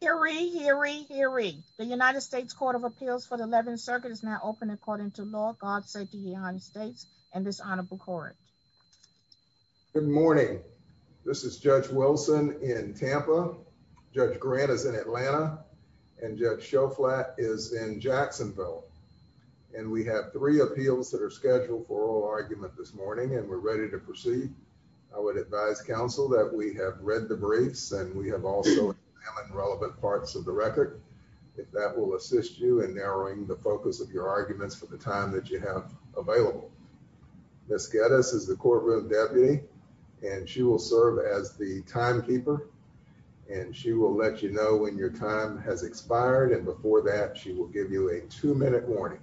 Hear ye, hear ye, hear ye. The United States Court of Appeals for the 11th Circuit is now open according to law. God save the United States and this honorable court. Good morning. This is Judge Wilson in Tampa. Judge Grant is in Atlanta and Judge Schoflat is in Jacksonville. And we have three appeals that are scheduled for oral argument this morning and we're ready to proceed. I would advise counsel that we have read the briefs and we have also relevant parts of the record if that will assist you in narrowing the focus of your arguments for the time that you have available. Ms. Geddes is the courtroom deputy and she will serve as the timekeeper and she will let you know when your time has expired and before that she will give you a two-minute warning.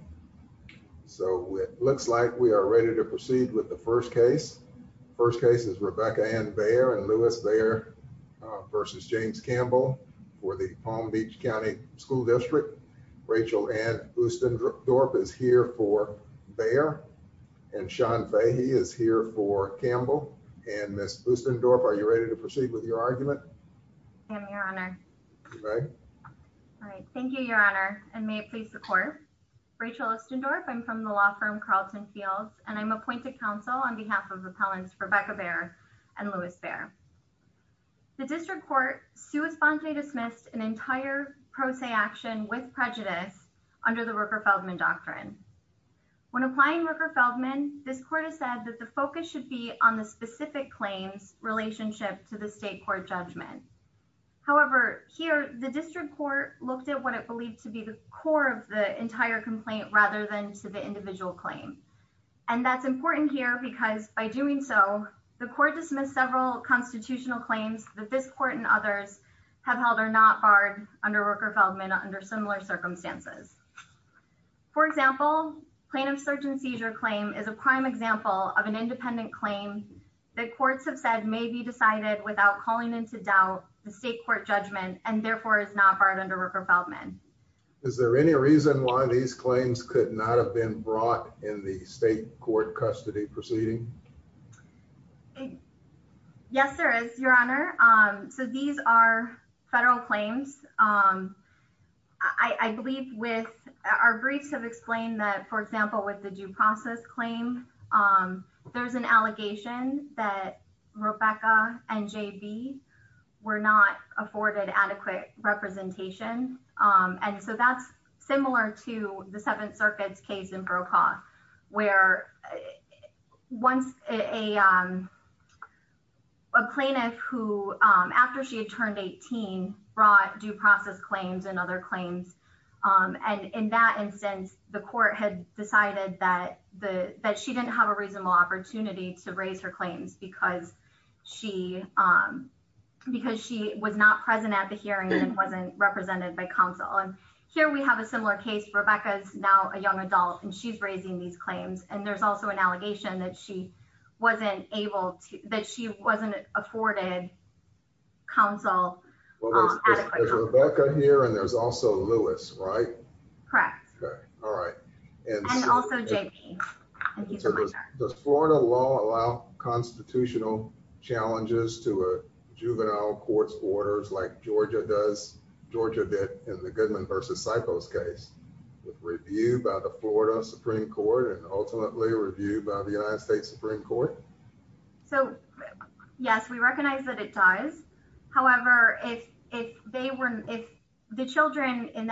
So it looks like we are ready to proceed with the first case. First case is Rebekka Ann Behr and Louis Behr v. James Campbell for the Palm Beach County School District. Rachel Ann Ustendorp is here for Behr and Sean Fahey is here for Campbell. And Ms. Ustendorp, are you ready to proceed with your argument? I am, your honor. All right. Thank you, your honor. And may it please the court. Rachel Ustendorp, I'm from the law firm Carleton Fields and I'm appointed counsel on behalf of appellants Rebekka Behr and Louis Behr. The district court sui sponte dismissed an entire pro se action with prejudice under the Rooker Feldman doctrine. When applying Rooker Feldman, this court has said that the focus should be on the specific claims relationship to the state court judgment. However, here the district court looked at what it believed to be the core of the entire complaint rather than to the individual claim. And that's important here because by doing so, the court dismissed several constitutional claims that this court and others have held are not barred under Rooker Feldman under similar circumstances. For example, plaintiff's search and seizure claim is a prime example of an independent claim that courts have said may be decided without calling into doubt the state court judgment and therefore is not barred under Rooker Feldman. Is there any reason why these in the state court custody proceeding? Yes, there is, Your Honor. So these are federal claims. I believe with our briefs have explained that, for example, with the due process claim, there's an allegation that Rebekka and J.B. were not afforded adequate representation. And so that's similar to the Seventh Circuit's case in where once a plaintiff who, after she had turned 18, brought due process claims and other claims. And in that instance, the court had decided that she didn't have a reasonable opportunity to raise her claims because she was not present at the hearing and wasn't represented by counsel. Here we have a similar case. Rebekka is now a young adult and she's raising these claims. And there's also an allegation that she wasn't able to, that she wasn't afforded counsel. Well, there's Rebekka here and there's also Lewis, right? Correct. All right. And also J.B. Does Florida law allow constitutional challenges to a juvenile court's orders like does Georgia did in the Goodman v. Sykos case with review by the Florida Supreme Court and ultimately review by the United States Supreme Court? So, yes, we recognize that it does. However, if the children in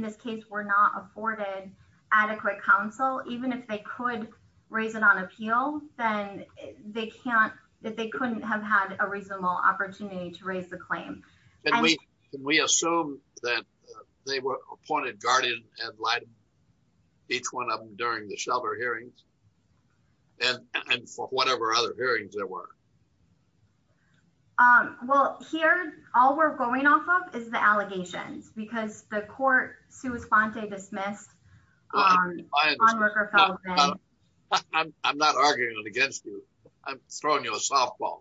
this case were not afforded adequate counsel, even if they could raise it on appeal, then they couldn't have had a reasonable opportunity to raise the claim. Can we assume that they were appointed guardian and lied to each one of them during the Shelter hearings and for whatever other hearings there were? Well, here, all we're going off of is the allegations because the court sua sponte dismissed on-worker felon. I'm not arguing it against you. I'm throwing you a softball.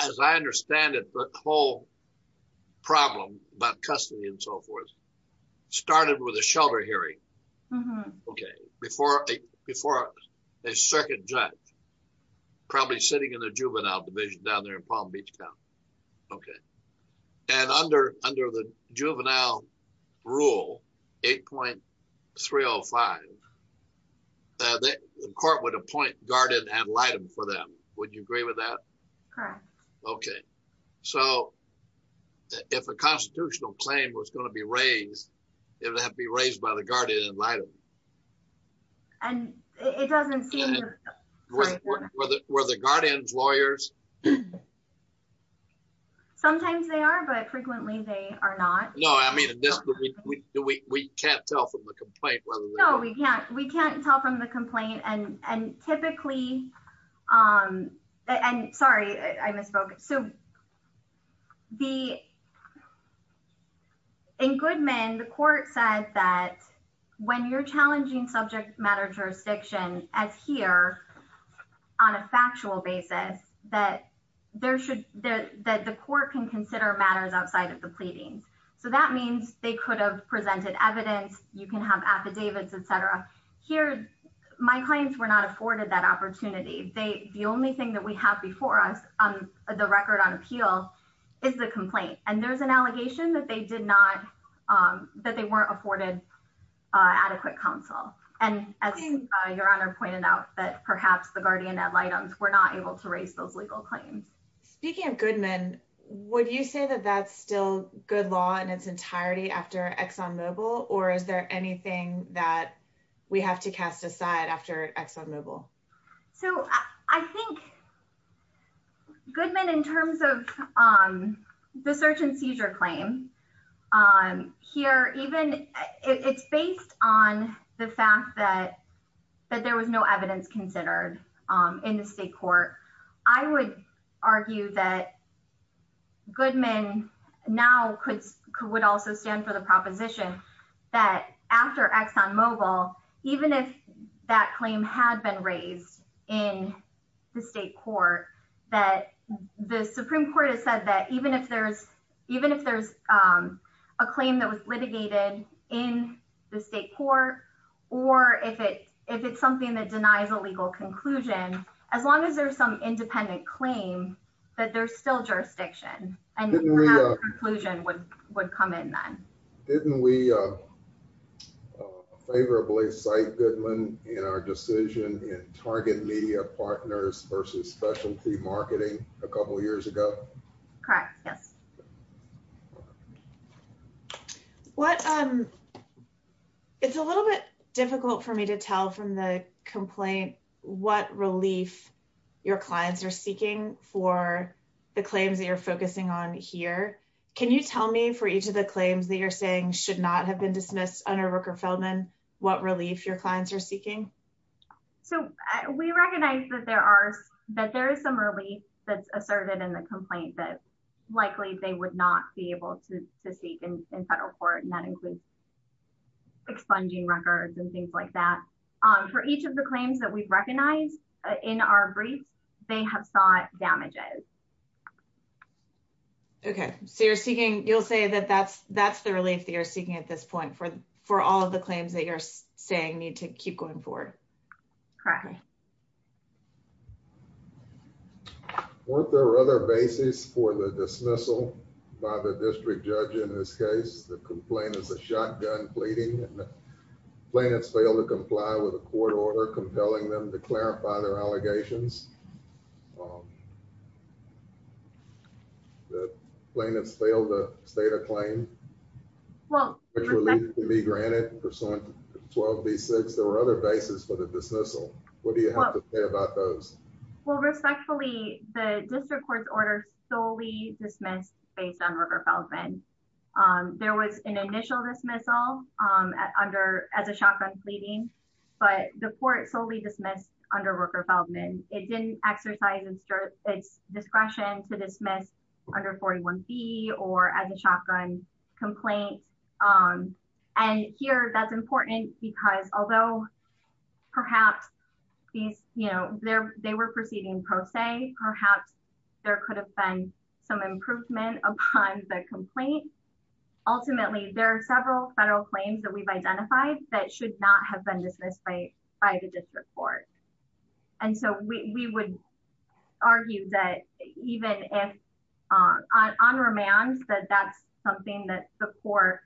As I understand it, the whole problem about custody and so forth started with a Shelter hearing. Okay. Before a second judge, probably sitting in the juvenile division down there in Palm Beach County. Okay. And under the juvenile rule 8.305, the court would appoint guardian and lied for them. Would you agree with that? Correct. Okay. So, if a constitutional claim was going to be raised, it would have to be raised by the guardian and lied for them. And it doesn't seem... Were the guardians lawyers? Sometimes they are, but frequently they are not. No, I mean, we can't tell from the complaint. No, we can't. We can't tell from the complaint. And typically... And sorry, I misspoke. So, in Goodman, the court said that when you're challenging subject matter jurisdiction, as here, on a factual basis, that the court can consider matters outside of the pleadings. So, that means they could have presented evidence. You can have affidavits, et cetera. Here, my clients were not afforded that opportunity. The only thing that we have before us, the record on appeal, is the complaint. And there's an allegation that they did not, that they weren't afforded adequate counsel. And as your honor pointed out, that perhaps the guardian ad litems were not able to raise those legal claims. Speaking of Goodman, would you say that that's still good law in its entirety after Exxon Mobil, or is there anything that we have to cast aside after Exxon Mobil? So, I think Goodman, in terms of the search and seizure claim, here, even... It's based on the fact that there was no evidence considered in the state court. I would argue that Goodman now would also stand for the proposition that after Exxon Mobil, even if that claim had been raised in the state court, that the Supreme Court has said that even if there's a claim that was litigated in the state court, or if it's something that denies a legal conclusion, as long as there's some independent claim, that there's still jurisdiction, and a conclusion would come in then. Didn't we favorably cite Goodman in our decision in Target Media Partners versus Specialty Marketing a couple of years ago? Correct. Yes. What... It's a little bit difficult for me to tell from the complaint what relief your clients are seeking for the claims that you're focusing on here. Can you tell me for each of the claims that you're saying should not have been dismissed under Rooker-Feldman, what relief your clients are seeking? So, we recognize that there is some relief that's asserted in the likely they would not be able to seek in federal court, and that includes expunging records and things like that. For each of the claims that we've recognized in our briefs, they have sought damages. Okay. So, you'll say that that's the relief that you're seeking at this point for all of the claims that you're saying need to keep going forward. Correct me. Weren't there other bases for the dismissal by the district judge in this case? The complaint is a shotgun pleading, and the plaintiff's failed to comply with a court order compelling them to clarify their allegations. The plaintiff's failed to state a claim. Well, which would be granted 12B6. There were other bases for the dismissal. What do you have to say about those? Well, respectfully, the district court's order solely dismissed based on Rooker-Feldman. There was an initial dismissal as a shotgun pleading, but the court solely dismissed under Rooker-Feldman. It didn't exercise its discretion to dismiss under 41B or as a shotgun complaint. Here, that's important because although perhaps they were proceeding pro se, perhaps there could have been some improvement upon the complaint. Ultimately, there are several federal claims that we've identified that should not have been dismissed by the district court. And so we would argue that even if on remand, that that's something that the court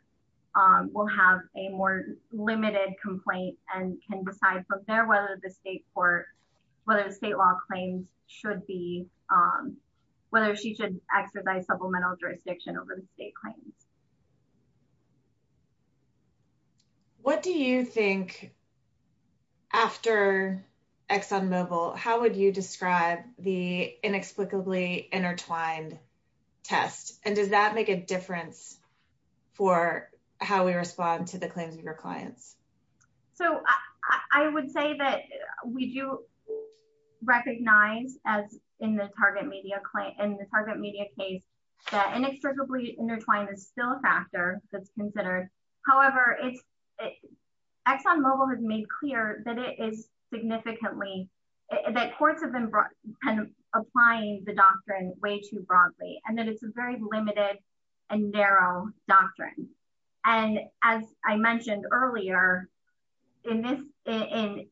will have a more limited complaint and can decide from there whether the state law claims should be, whether she should exercise supplemental jurisdiction over the state claims. What do you think after ExxonMobil, how would you describe the inexplicably intertwined test? And does that make a difference for how we respond to the claims of your clients? So I would say that we do recognize as in the target media claim, in the target media case, that inextricably intertwined is still a factor that's considered. However, ExxonMobil has made clear that it is significantly, that courts have been applying the doctrine way too broadly, and that it's a very limited and narrow doctrine. And as I mentioned earlier, in this, in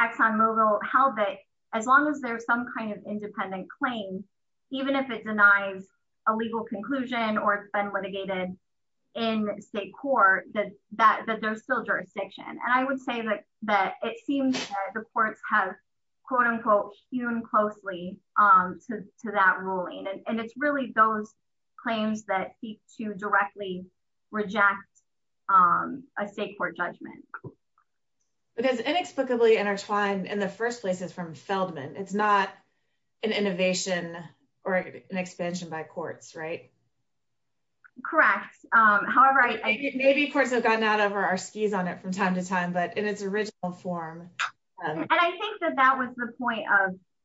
ExxonMobil held that as long as there's some kind of independent claim, even if it denies a legal conclusion, or it's been litigated in state court, that there's still jurisdiction. And I would say that it seems that the courts have, quote, unquote, hewn closely to that ruling. And it's really those claims that seek to directly reject a state court judgment. Because inexplicably intertwined in the first place is from Feldman. It's not an innovation, or an expansion by courts, right? Correct. However, I think maybe courts have gotten out of our skis on it from time to time, but in its original form. And I think that that was the point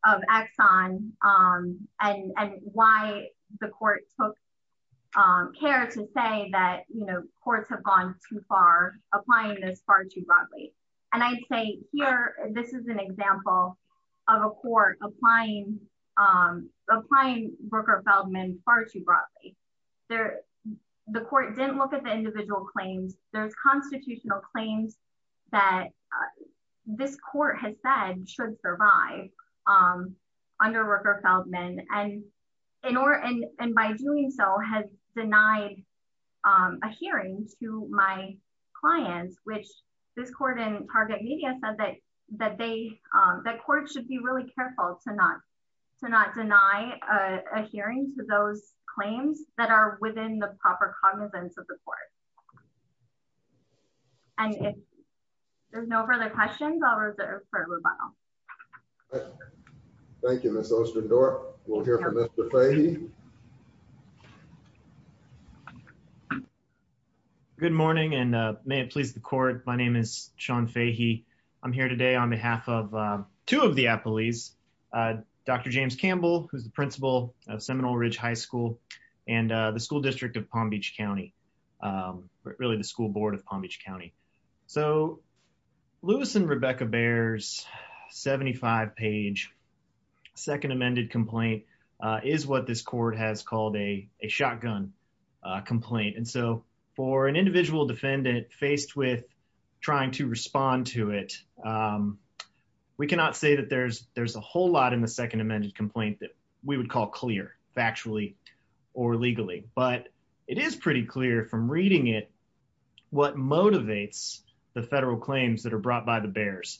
of Exxon, and why the court took care to say that, you know, courts have gone too far, applying this far too broadly. And I'd say here, this is an example of a court applying, applying Rooker-Feldman far too broadly. There, the court didn't look at the individual claims, there's constitutional claims that this court has said should survive under Rooker-Feldman, and in order, and by doing so, has denied a hearing to my clients, which this court in Target Media said that, that they, that courts should be really careful to not, to not deny a hearing to those claims that are within the proper cognizance of the court. And if there's no further questions, I'll reserve for rebuttal. All right. Thank you, Ms. Ostendorf. We'll hear from Mr. Fahy. Good morning, and may it please the court. My name is Sean Fahy. I'm here today on behalf of two of the appellees, Dr. James Campbell, who's the principal of Seminole Ridge High School, and the school district of Palm Beach County, really the school board of Palm Beach County. So Lewis and Rebecca Baer's 75-page second amended complaint is what this court has called a shotgun complaint. And so for an individual defendant faced with trying to respond to it, we cannot say that there's, there's a whole lot in the second amended complaint that we would call clear factually or legally, but it is pretty clear from reading it, what motivates the federal claims that are brought by the Baers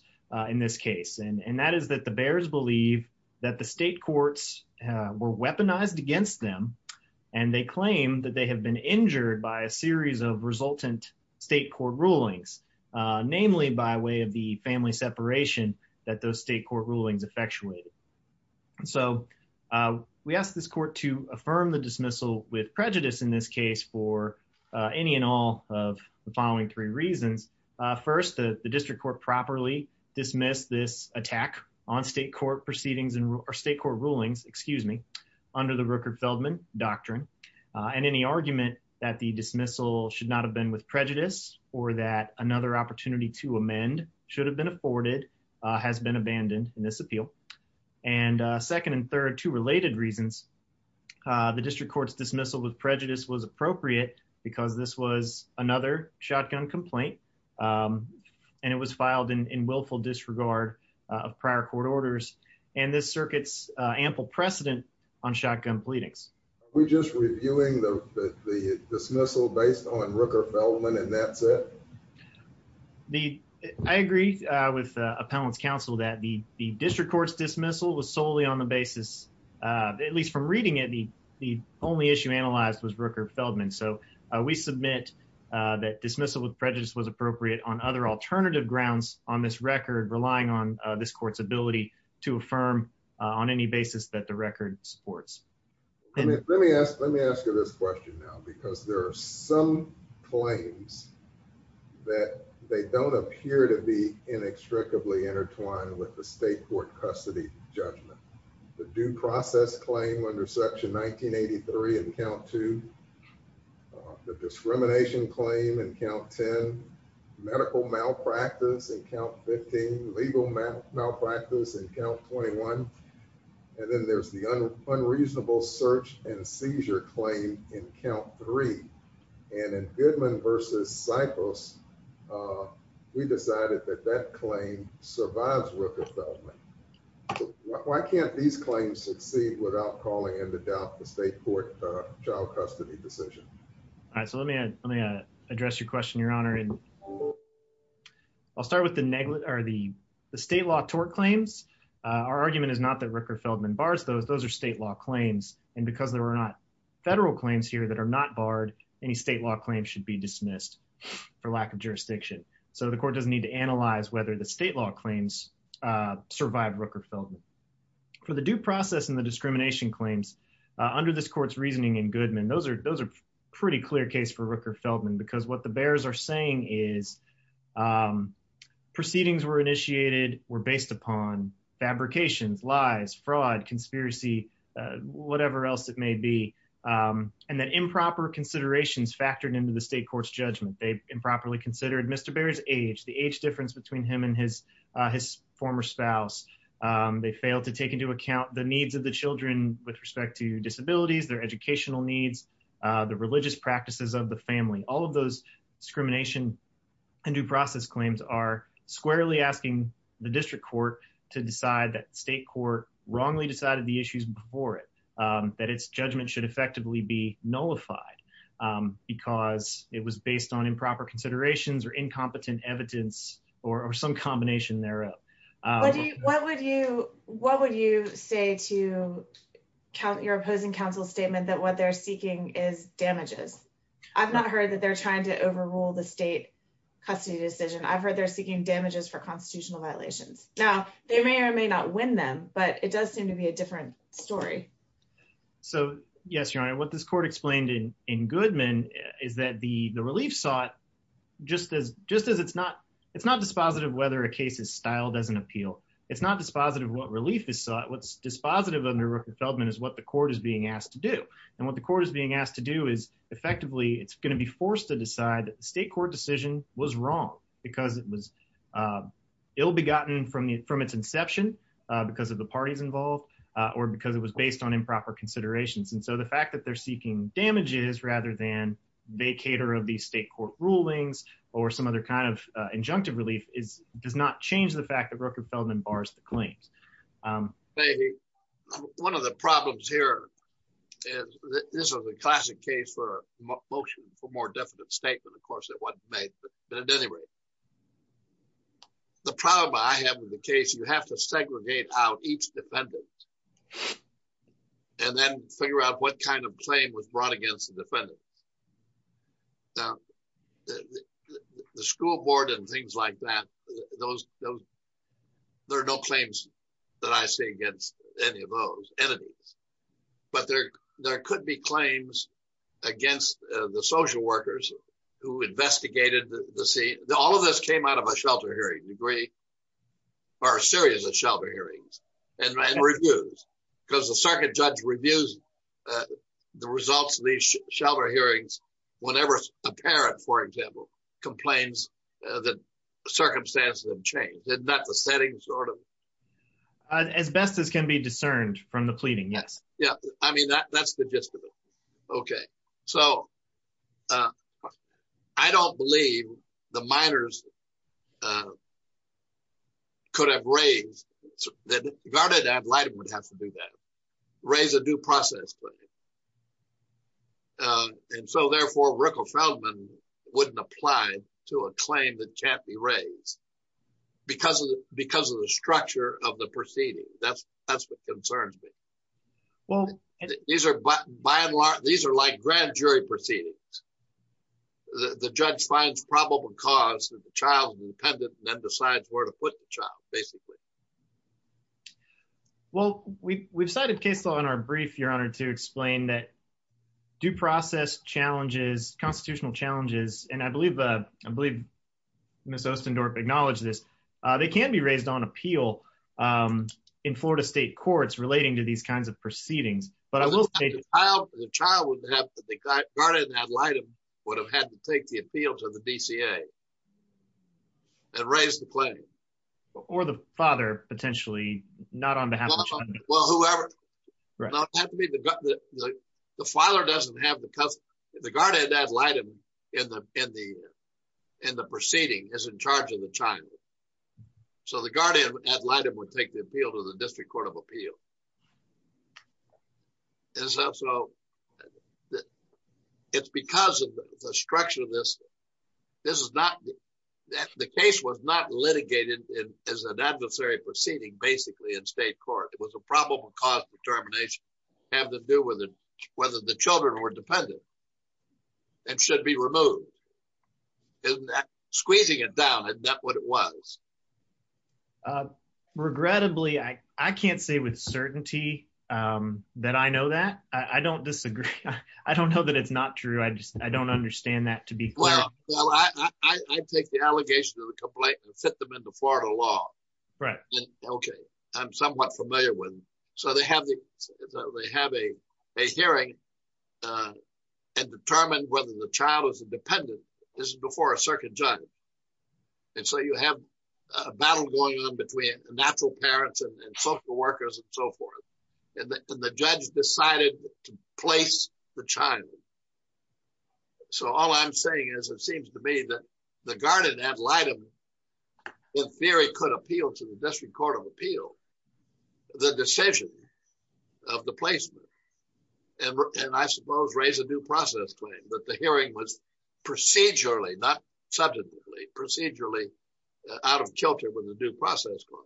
in this case. And that is that the Baers believe that the state courts were weaponized against them, and they claim that they have been injured by a series of resultant state court rulings, namely by way of the family separation that those We ask this court to affirm the dismissal with prejudice in this case for any and all of the following three reasons. First, the district court properly dismissed this attack on state court proceedings and state court rulings, excuse me, under the Rooker-Feldman doctrine, and any argument that the dismissal should not have been with prejudice or that another opportunity to amend should have been afforded has been abandoned in this appeal. And second and third, two related reasons. The district court's dismissal with prejudice was appropriate because this was another shotgun complaint and it was filed in willful disregard of prior court orders and this circuit's ample precedent on shotgun pleadings. We're just reviewing the dismissal based on Rooker-Feldman and that's it? I agree with appellant's counsel that the at least from reading it, the only issue analyzed was Rooker-Feldman. So we submit that dismissal with prejudice was appropriate on other alternative grounds on this record, relying on this court's ability to affirm on any basis that the record supports. Let me ask you this question now, because there are some claims that they don't appear to be inextricably intertwined with the state court custody judgment. The due process claim under section 1983 in count two, the discrimination claim in count 10, medical malpractice in count 15, legal malpractice in count 21, and then there's the unreasonable search and seizure claim in count three and in Goodman versus Cyprus, we decided that that claim survives Rooker-Feldman. Why can't these claims succeed without calling into doubt the state court child custody decision? All right, so let me address your question, your honor, and I'll start with the state law tort claims. Our argument is not that Rooker-Feldman bars those, those are state law claims, and because there are not federal claims here that are not barred, any state law claims should be dismissed for lack of jurisdiction. So the court doesn't need to analyze whether the state law claims survive Rooker-Feldman. For the due process and the discrimination claims under this court's reasoning in Goodman, those are pretty clear case for Rooker-Feldman, because what the bears are saying is proceedings were initiated, were based upon fabrications, lies, fraud, conspiracy, whatever else it may be, and that improper considerations factored into the state court's judgment. They improperly considered Mr. Bear's age, the age difference between him and his former spouse. They failed to take into account the needs of the children with respect to disabilities, their educational needs, the religious practices of the family. All of those discrimination and due process claims are squarely asking the district court to decide that state court wrongly decided the issues before it, that its judgment should effectively be nullified because it was based on improper considerations or incompetent evidence or some combination thereof. What would you, what would you say to your opposing counsel's statement that what they're seeking is damages? I've not heard that they're trying to overrule the state custody decision. I've heard they're seeking damages for constitutional violations. Now, they may or may not win them, but it does seem to be a different story. So yes, Your Honor, what this court explained in Goodman is that the relief sought, just as, just as it's not, it's not dispositive whether a case is styled as an appeal. It's not dispositive what relief is sought. What's dispositive under Rooker-Feldman is what the court is being asked to do. And what the court is being asked to do is effectively, it's going to be forced to decide that the state court decision was wrong because it was ill-begotten from the, from its inception because of the parties involved or because it was based on improper considerations. And so the fact that they're seeking damages rather than vacator of these state court rulings or some other kind of injunctive relief is, does not change the fact that Rooker-Feldman bars the claims. They, one of the problems here is this was a classic case for a motion for more definite statement. Of course it wasn't made, but at any rate, the problem I have with the case, you have to segregate out each defendant and then figure out what kind of claim was brought against the defendant. Now the school board and things like that, those, those, there are no claims that I see against any of those entities, but there, there could be claims against the social workers who investigated the scene. All of this came out of a shelter hearing degree or a series of shelter hearings and reviews because the circuit judge reviews the results of these shelter hearings whenever a parent, for example, complains that circumstances have changed. Isn't that the setting sort of? Asbestos can be discerned from the pleading. Yes. Yeah. I mean, that, that's the gist of it. Okay. So I don't believe the minors could have raised, Gardner and Adleitman would have to do that, raise a due process claim. And so therefore Rooker-Feldman wouldn't apply to a claim that can't be raised. Because of the, because of the structure of the proceeding, that's, that's what concerns me. Well, these are by and large, these are like grand jury proceedings. The judge finds probable cause that the child, the dependent, then decides where to put the child, basically. Well, we, we've cited case law in our brief, your honor, to explain that due process challenges, constitutional challenges, and I believe, I believe Ms. Ostendorp acknowledged this, they can be raised on appeal in Florida state courts relating to these kinds of proceedings. But I will say the child, the child would have, Gardner and Adleitman would have had to take the appeal to the DCA and raise the claim. Or the father potentially, not on behalf of the child. Well, whoever, it doesn't have to be the, the father doesn't have to, because the Gardner and Adleitman in the, in the, in the proceeding is in charge of the child. So the Gardner and Adleitman would take the appeal to the District Court of Appeal. It's also, it's because of the structure of this, this is not, the case was not litigated as an adversary proceeding, basically, in state court. It was a probable cause determination, have to do with whether the children were dependent, and should be removed. Isn't that, squeezing it down, isn't that what it was? Regrettably, I can't say with certainty that I know that. I don't disagree. I don't know that it's not true. I just, I don't understand that to be clear. Well, I take the allegation of the complaint and fit them into Florida law. Right. Okay. I'm somewhat familiar with them. So they have the, they have a, a hearing and determine whether the child is dependent. This is before a circuit judge. And so you have a battle going on between natural parents and social workers and so forth. And the judge decided to place the child. So all I'm saying is, it seems to me that the of the placement, and I suppose raise a due process claim that the hearing was procedurally, not subjectively, procedurally out of kilter with the due process clause.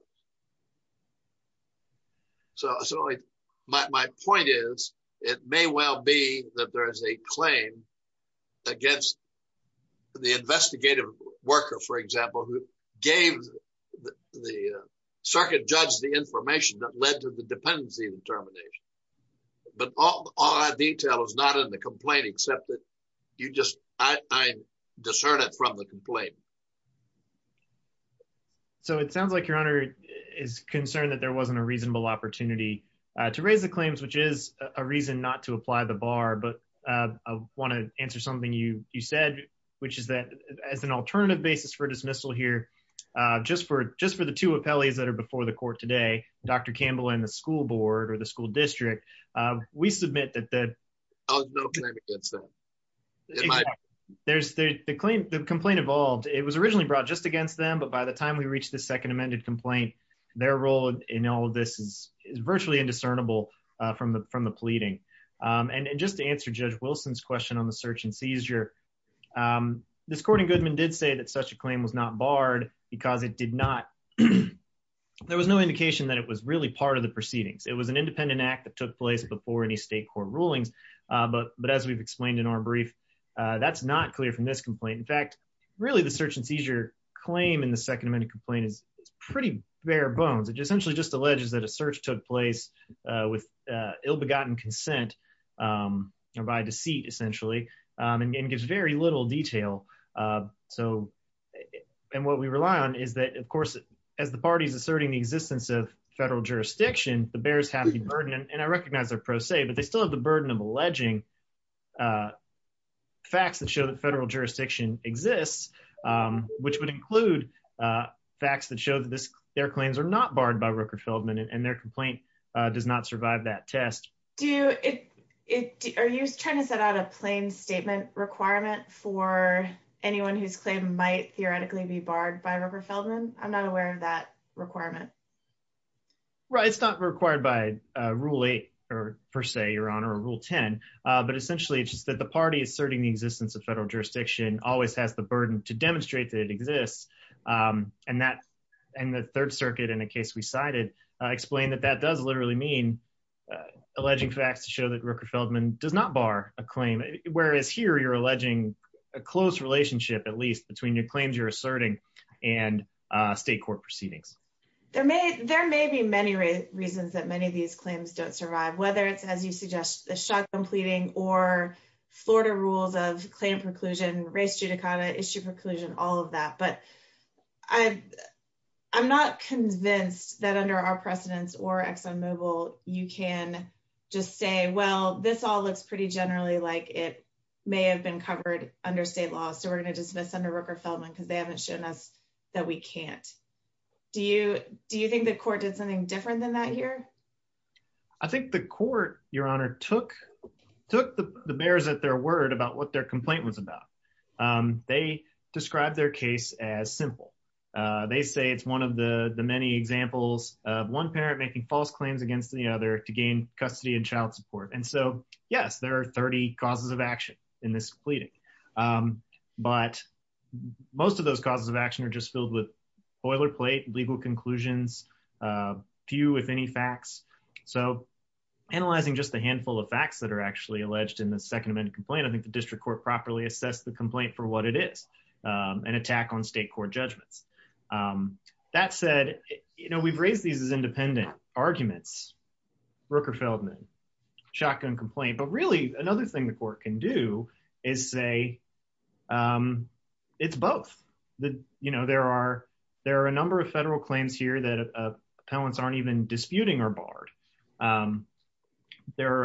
So, so my point is, it may well be that there is a claim against the investigative worker, for example, who gave the circuit judge the information that led to the dependency determination. But all that detail is not in the complaint, except that you just I discern it from the complaint. So it sounds like your honor is concerned that there wasn't a reasonable opportunity to raise the claims, which is a reason not to apply the bar. But I want to answer something you said, which is that as an alternative basis for dismissal here, just for just for the two appellees that are before the court today, Dr. Campbell and the school board or the school district, we submit that that there's the claim, the complaint evolved, it was originally brought just against them. But by the time we reached the second amended complaint, their role in all of this is virtually indiscernible from the from the pleading. And just to answer Judge Wilson's search and seizure. This court in Goodman did say that such a claim was not barred, because it did not. There was no indication that it was really part of the proceedings. It was an independent act that took place before any state court rulings. But but as we've explained in our brief, that's not clear from this complaint. In fact, really, the search and seizure claim in the second amended complaint is pretty bare bones. It essentially just alleges that a search took place with and gives very little detail. So and what we rely on is that of course, as the parties asserting the existence of federal jurisdiction, the bears have the burden and I recognize their pro se, but they still have the burden of alleging facts that show that federal jurisdiction exists, which would include facts that show that this their claims are not barred by Rooker Feldman and their complaint does not survive that test. Do it? Are you trying to set out a plain statement requirement for anyone who's claimed might theoretically be barred by Rupert Feldman? I'm not aware of that requirement. Right? It's not required by rule eight, or per se, Your Honor rule 10. But essentially, it's just that the party asserting the existence of federal jurisdiction always has the burden to demonstrate that it exists. And that and the Third Circuit in case we cited, explain that that does literally mean alleging facts to show that Rooker Feldman does not bar a claim, whereas here, you're alleging a close relationship, at least between your claims you're asserting and state court proceedings. There may there may be many reasons that many of these claims don't survive, whether it's as you suggest, the shotgun pleading or Florida rules of claim preclusion, race judicata, issue preclusion, all of that, but I, I'm not convinced that under our precedents or Exxon Mobil, you can just say, well, this all looks pretty generally like it may have been covered under state law. So we're going to dismiss under Rooker Feldman because they haven't shown us that we can't. Do you do you think the court did something different than that here? I think the court, Your Honor took, took the bears at their word about what their complaint was about. They described their case as simple. They say it's one of the many examples of one parent making false claims against the other to gain custody and child support. And so yes, there are 30 causes of action in this pleading. But most of those causes of action are just filled with boilerplate legal conclusions, few if any facts. So analyzing just a handful of facts that are actually alleged in the second amendment complaint, I think the district court properly assessed the complaint for what it is, an attack on state court judgments. That said, you know, we've raised these as independent arguments, Rooker Feldman, shotgun complaint, but really another thing the court can do is say, it's both the, you know, there are, there are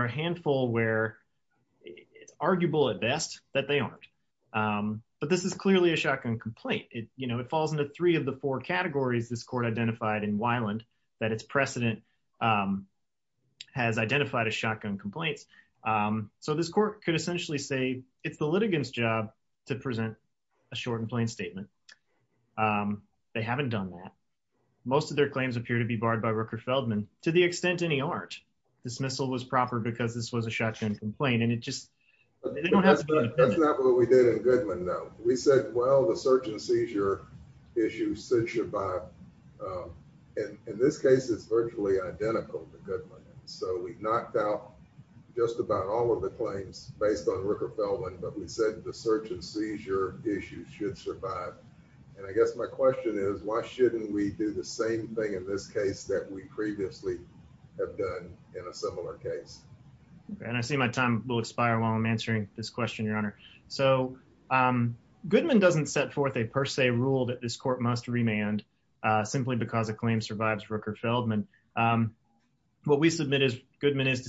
a handful where it's arguable at best that they aren't. But this is clearly a shotgun complaint. It, you know, it falls into three of the four categories this court identified in Weiland that its precedent has identified as shotgun complaints. So this court could essentially say, it's the litigants job to present a short and plain statement. They haven't done that. Most of their claims appear to be barred by Rooker Feldman, to the extent any aren't. Dismissal was proper because this was a shotgun complaint. And it just, that's not what we did in Goodman though. We said, well, the search and seizure issue should survive. And in this case, it's virtually identical to Goodman. So we've knocked out just about all of the claims based on Rooker Feldman, but we said the search and seizure issues should survive. And I guess my question is why shouldn't we do the same thing in this case that we previously have done in a similar case? Okay. And I see my time will expire while I'm answering this question, Your Honor. So Goodman doesn't set forth a per se rule that this court must remand simply because a claim survives Rooker Feldman. What we submit is Goodman is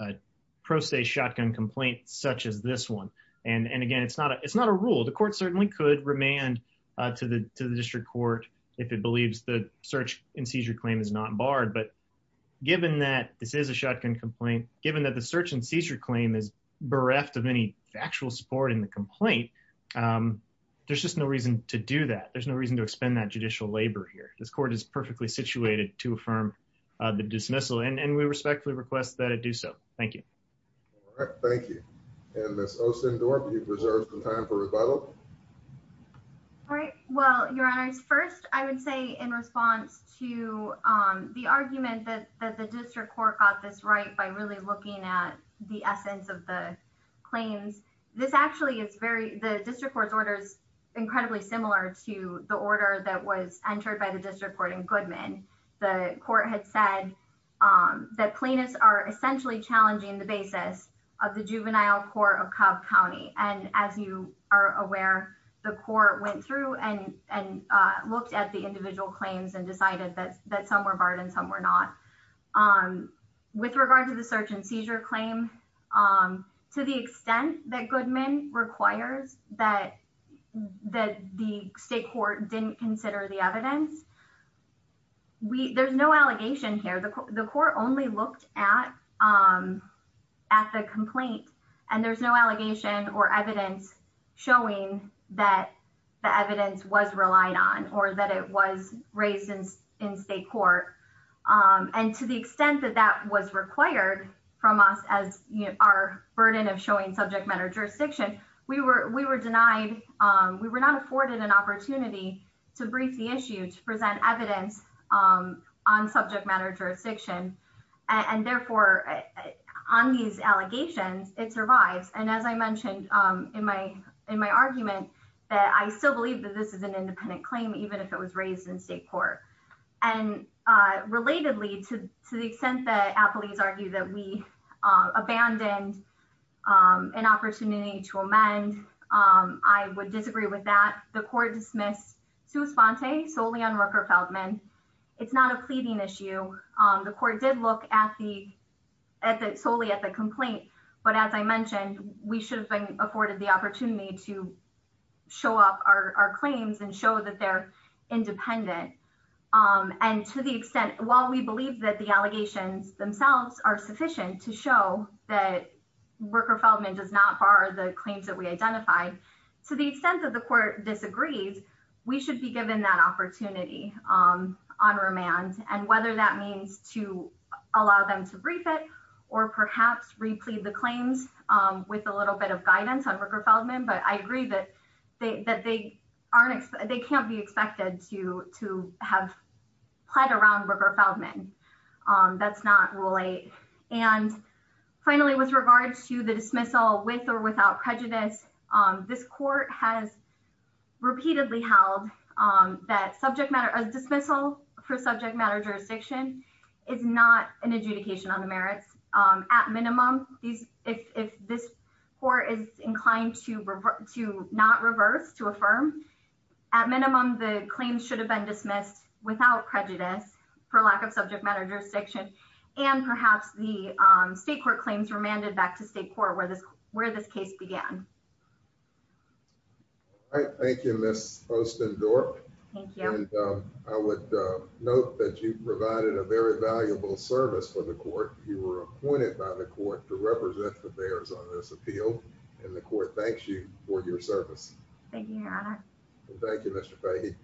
a pro se shotgun complaint, such as this one. And again, it's not a rule. The court certainly could remand to the district court if it believes the search and seizure claim is not barred. But given that this is a shotgun complaint, given that the search and seizure claim is bereft of any factual support in the complaint, there's just no reason to do that. There's no reason to expend that judicial labor here. This court is perfectly situated to affirm the dismissal. And we respectfully request that it do so. Thank you. All right. Thank you. And Ms. Osendorf, you've reserved some time for rebuttal. All right. Well, Your Honors, first I would say in response to the argument that the district court got this right by really looking at the essence of the claims, this actually is very, the district court's order is incredibly similar to the order that was entered by the district court in Goodman. The court had said that plaintiffs are essentially challenging the basis of the juvenile court of Cobb County. And as you are aware, the court went through and looked at the individual claims and decided that some were barred and some were not. With regard to the search and seizure claim, to the extent that that the state court didn't consider the evidence, there's no allegation here. The court only looked at the complaint and there's no allegation or evidence showing that the evidence was relied on or that it was raised in state court. And to the extent that that was required from us as our burden of showing subject matter jurisdiction, we were denied, we were not afforded an opportunity to brief the issue, to present evidence on subject matter jurisdiction. And therefore, on these allegations, it survives. And as I mentioned in my argument, that I still believe that this is an independent claim, even if it was raised in state court. And relatedly, to the extent that appellees argue that we abandoned an opportunity to amend, I would disagree with that. The court dismissed sua sponte solely on Rooker-Feldman. It's not a pleading issue. The court did look solely at the complaint. But as I mentioned, we should have been afforded the opportunity to show up our claims and show that they're independent. And to the extent, while we believe that the allegations themselves are sufficient to that Rooker-Feldman does not bar the claims that we identified, to the extent that the court disagrees, we should be given that opportunity on remand. And whether that means to allow them to brief it or perhaps replead the claims with a little bit of guidance on Rooker-Feldman, but I agree that they can't be expected to have pled around Rooker-Feldman. That's not rule eight. And finally, with regards to the dismissal with or without prejudice, this court has repeatedly held that subject matter, a dismissal for subject matter jurisdiction is not an adjudication on the merits. At minimum, if this court is inclined to not reverse, to affirm, at minimum, the claims should have been dismissed without prejudice for lack of subject matter jurisdiction. And perhaps the state court claims remanded back to state court where this case began. All right. Thank you, Ms. Ostendorp. Thank you. And I would note that you provided a very valuable service for the court. You were appointed by the court to represent the bears on this appeal and the court thanks you for your service. Thank you, Your Honor. Thank you, Mr. Fahey.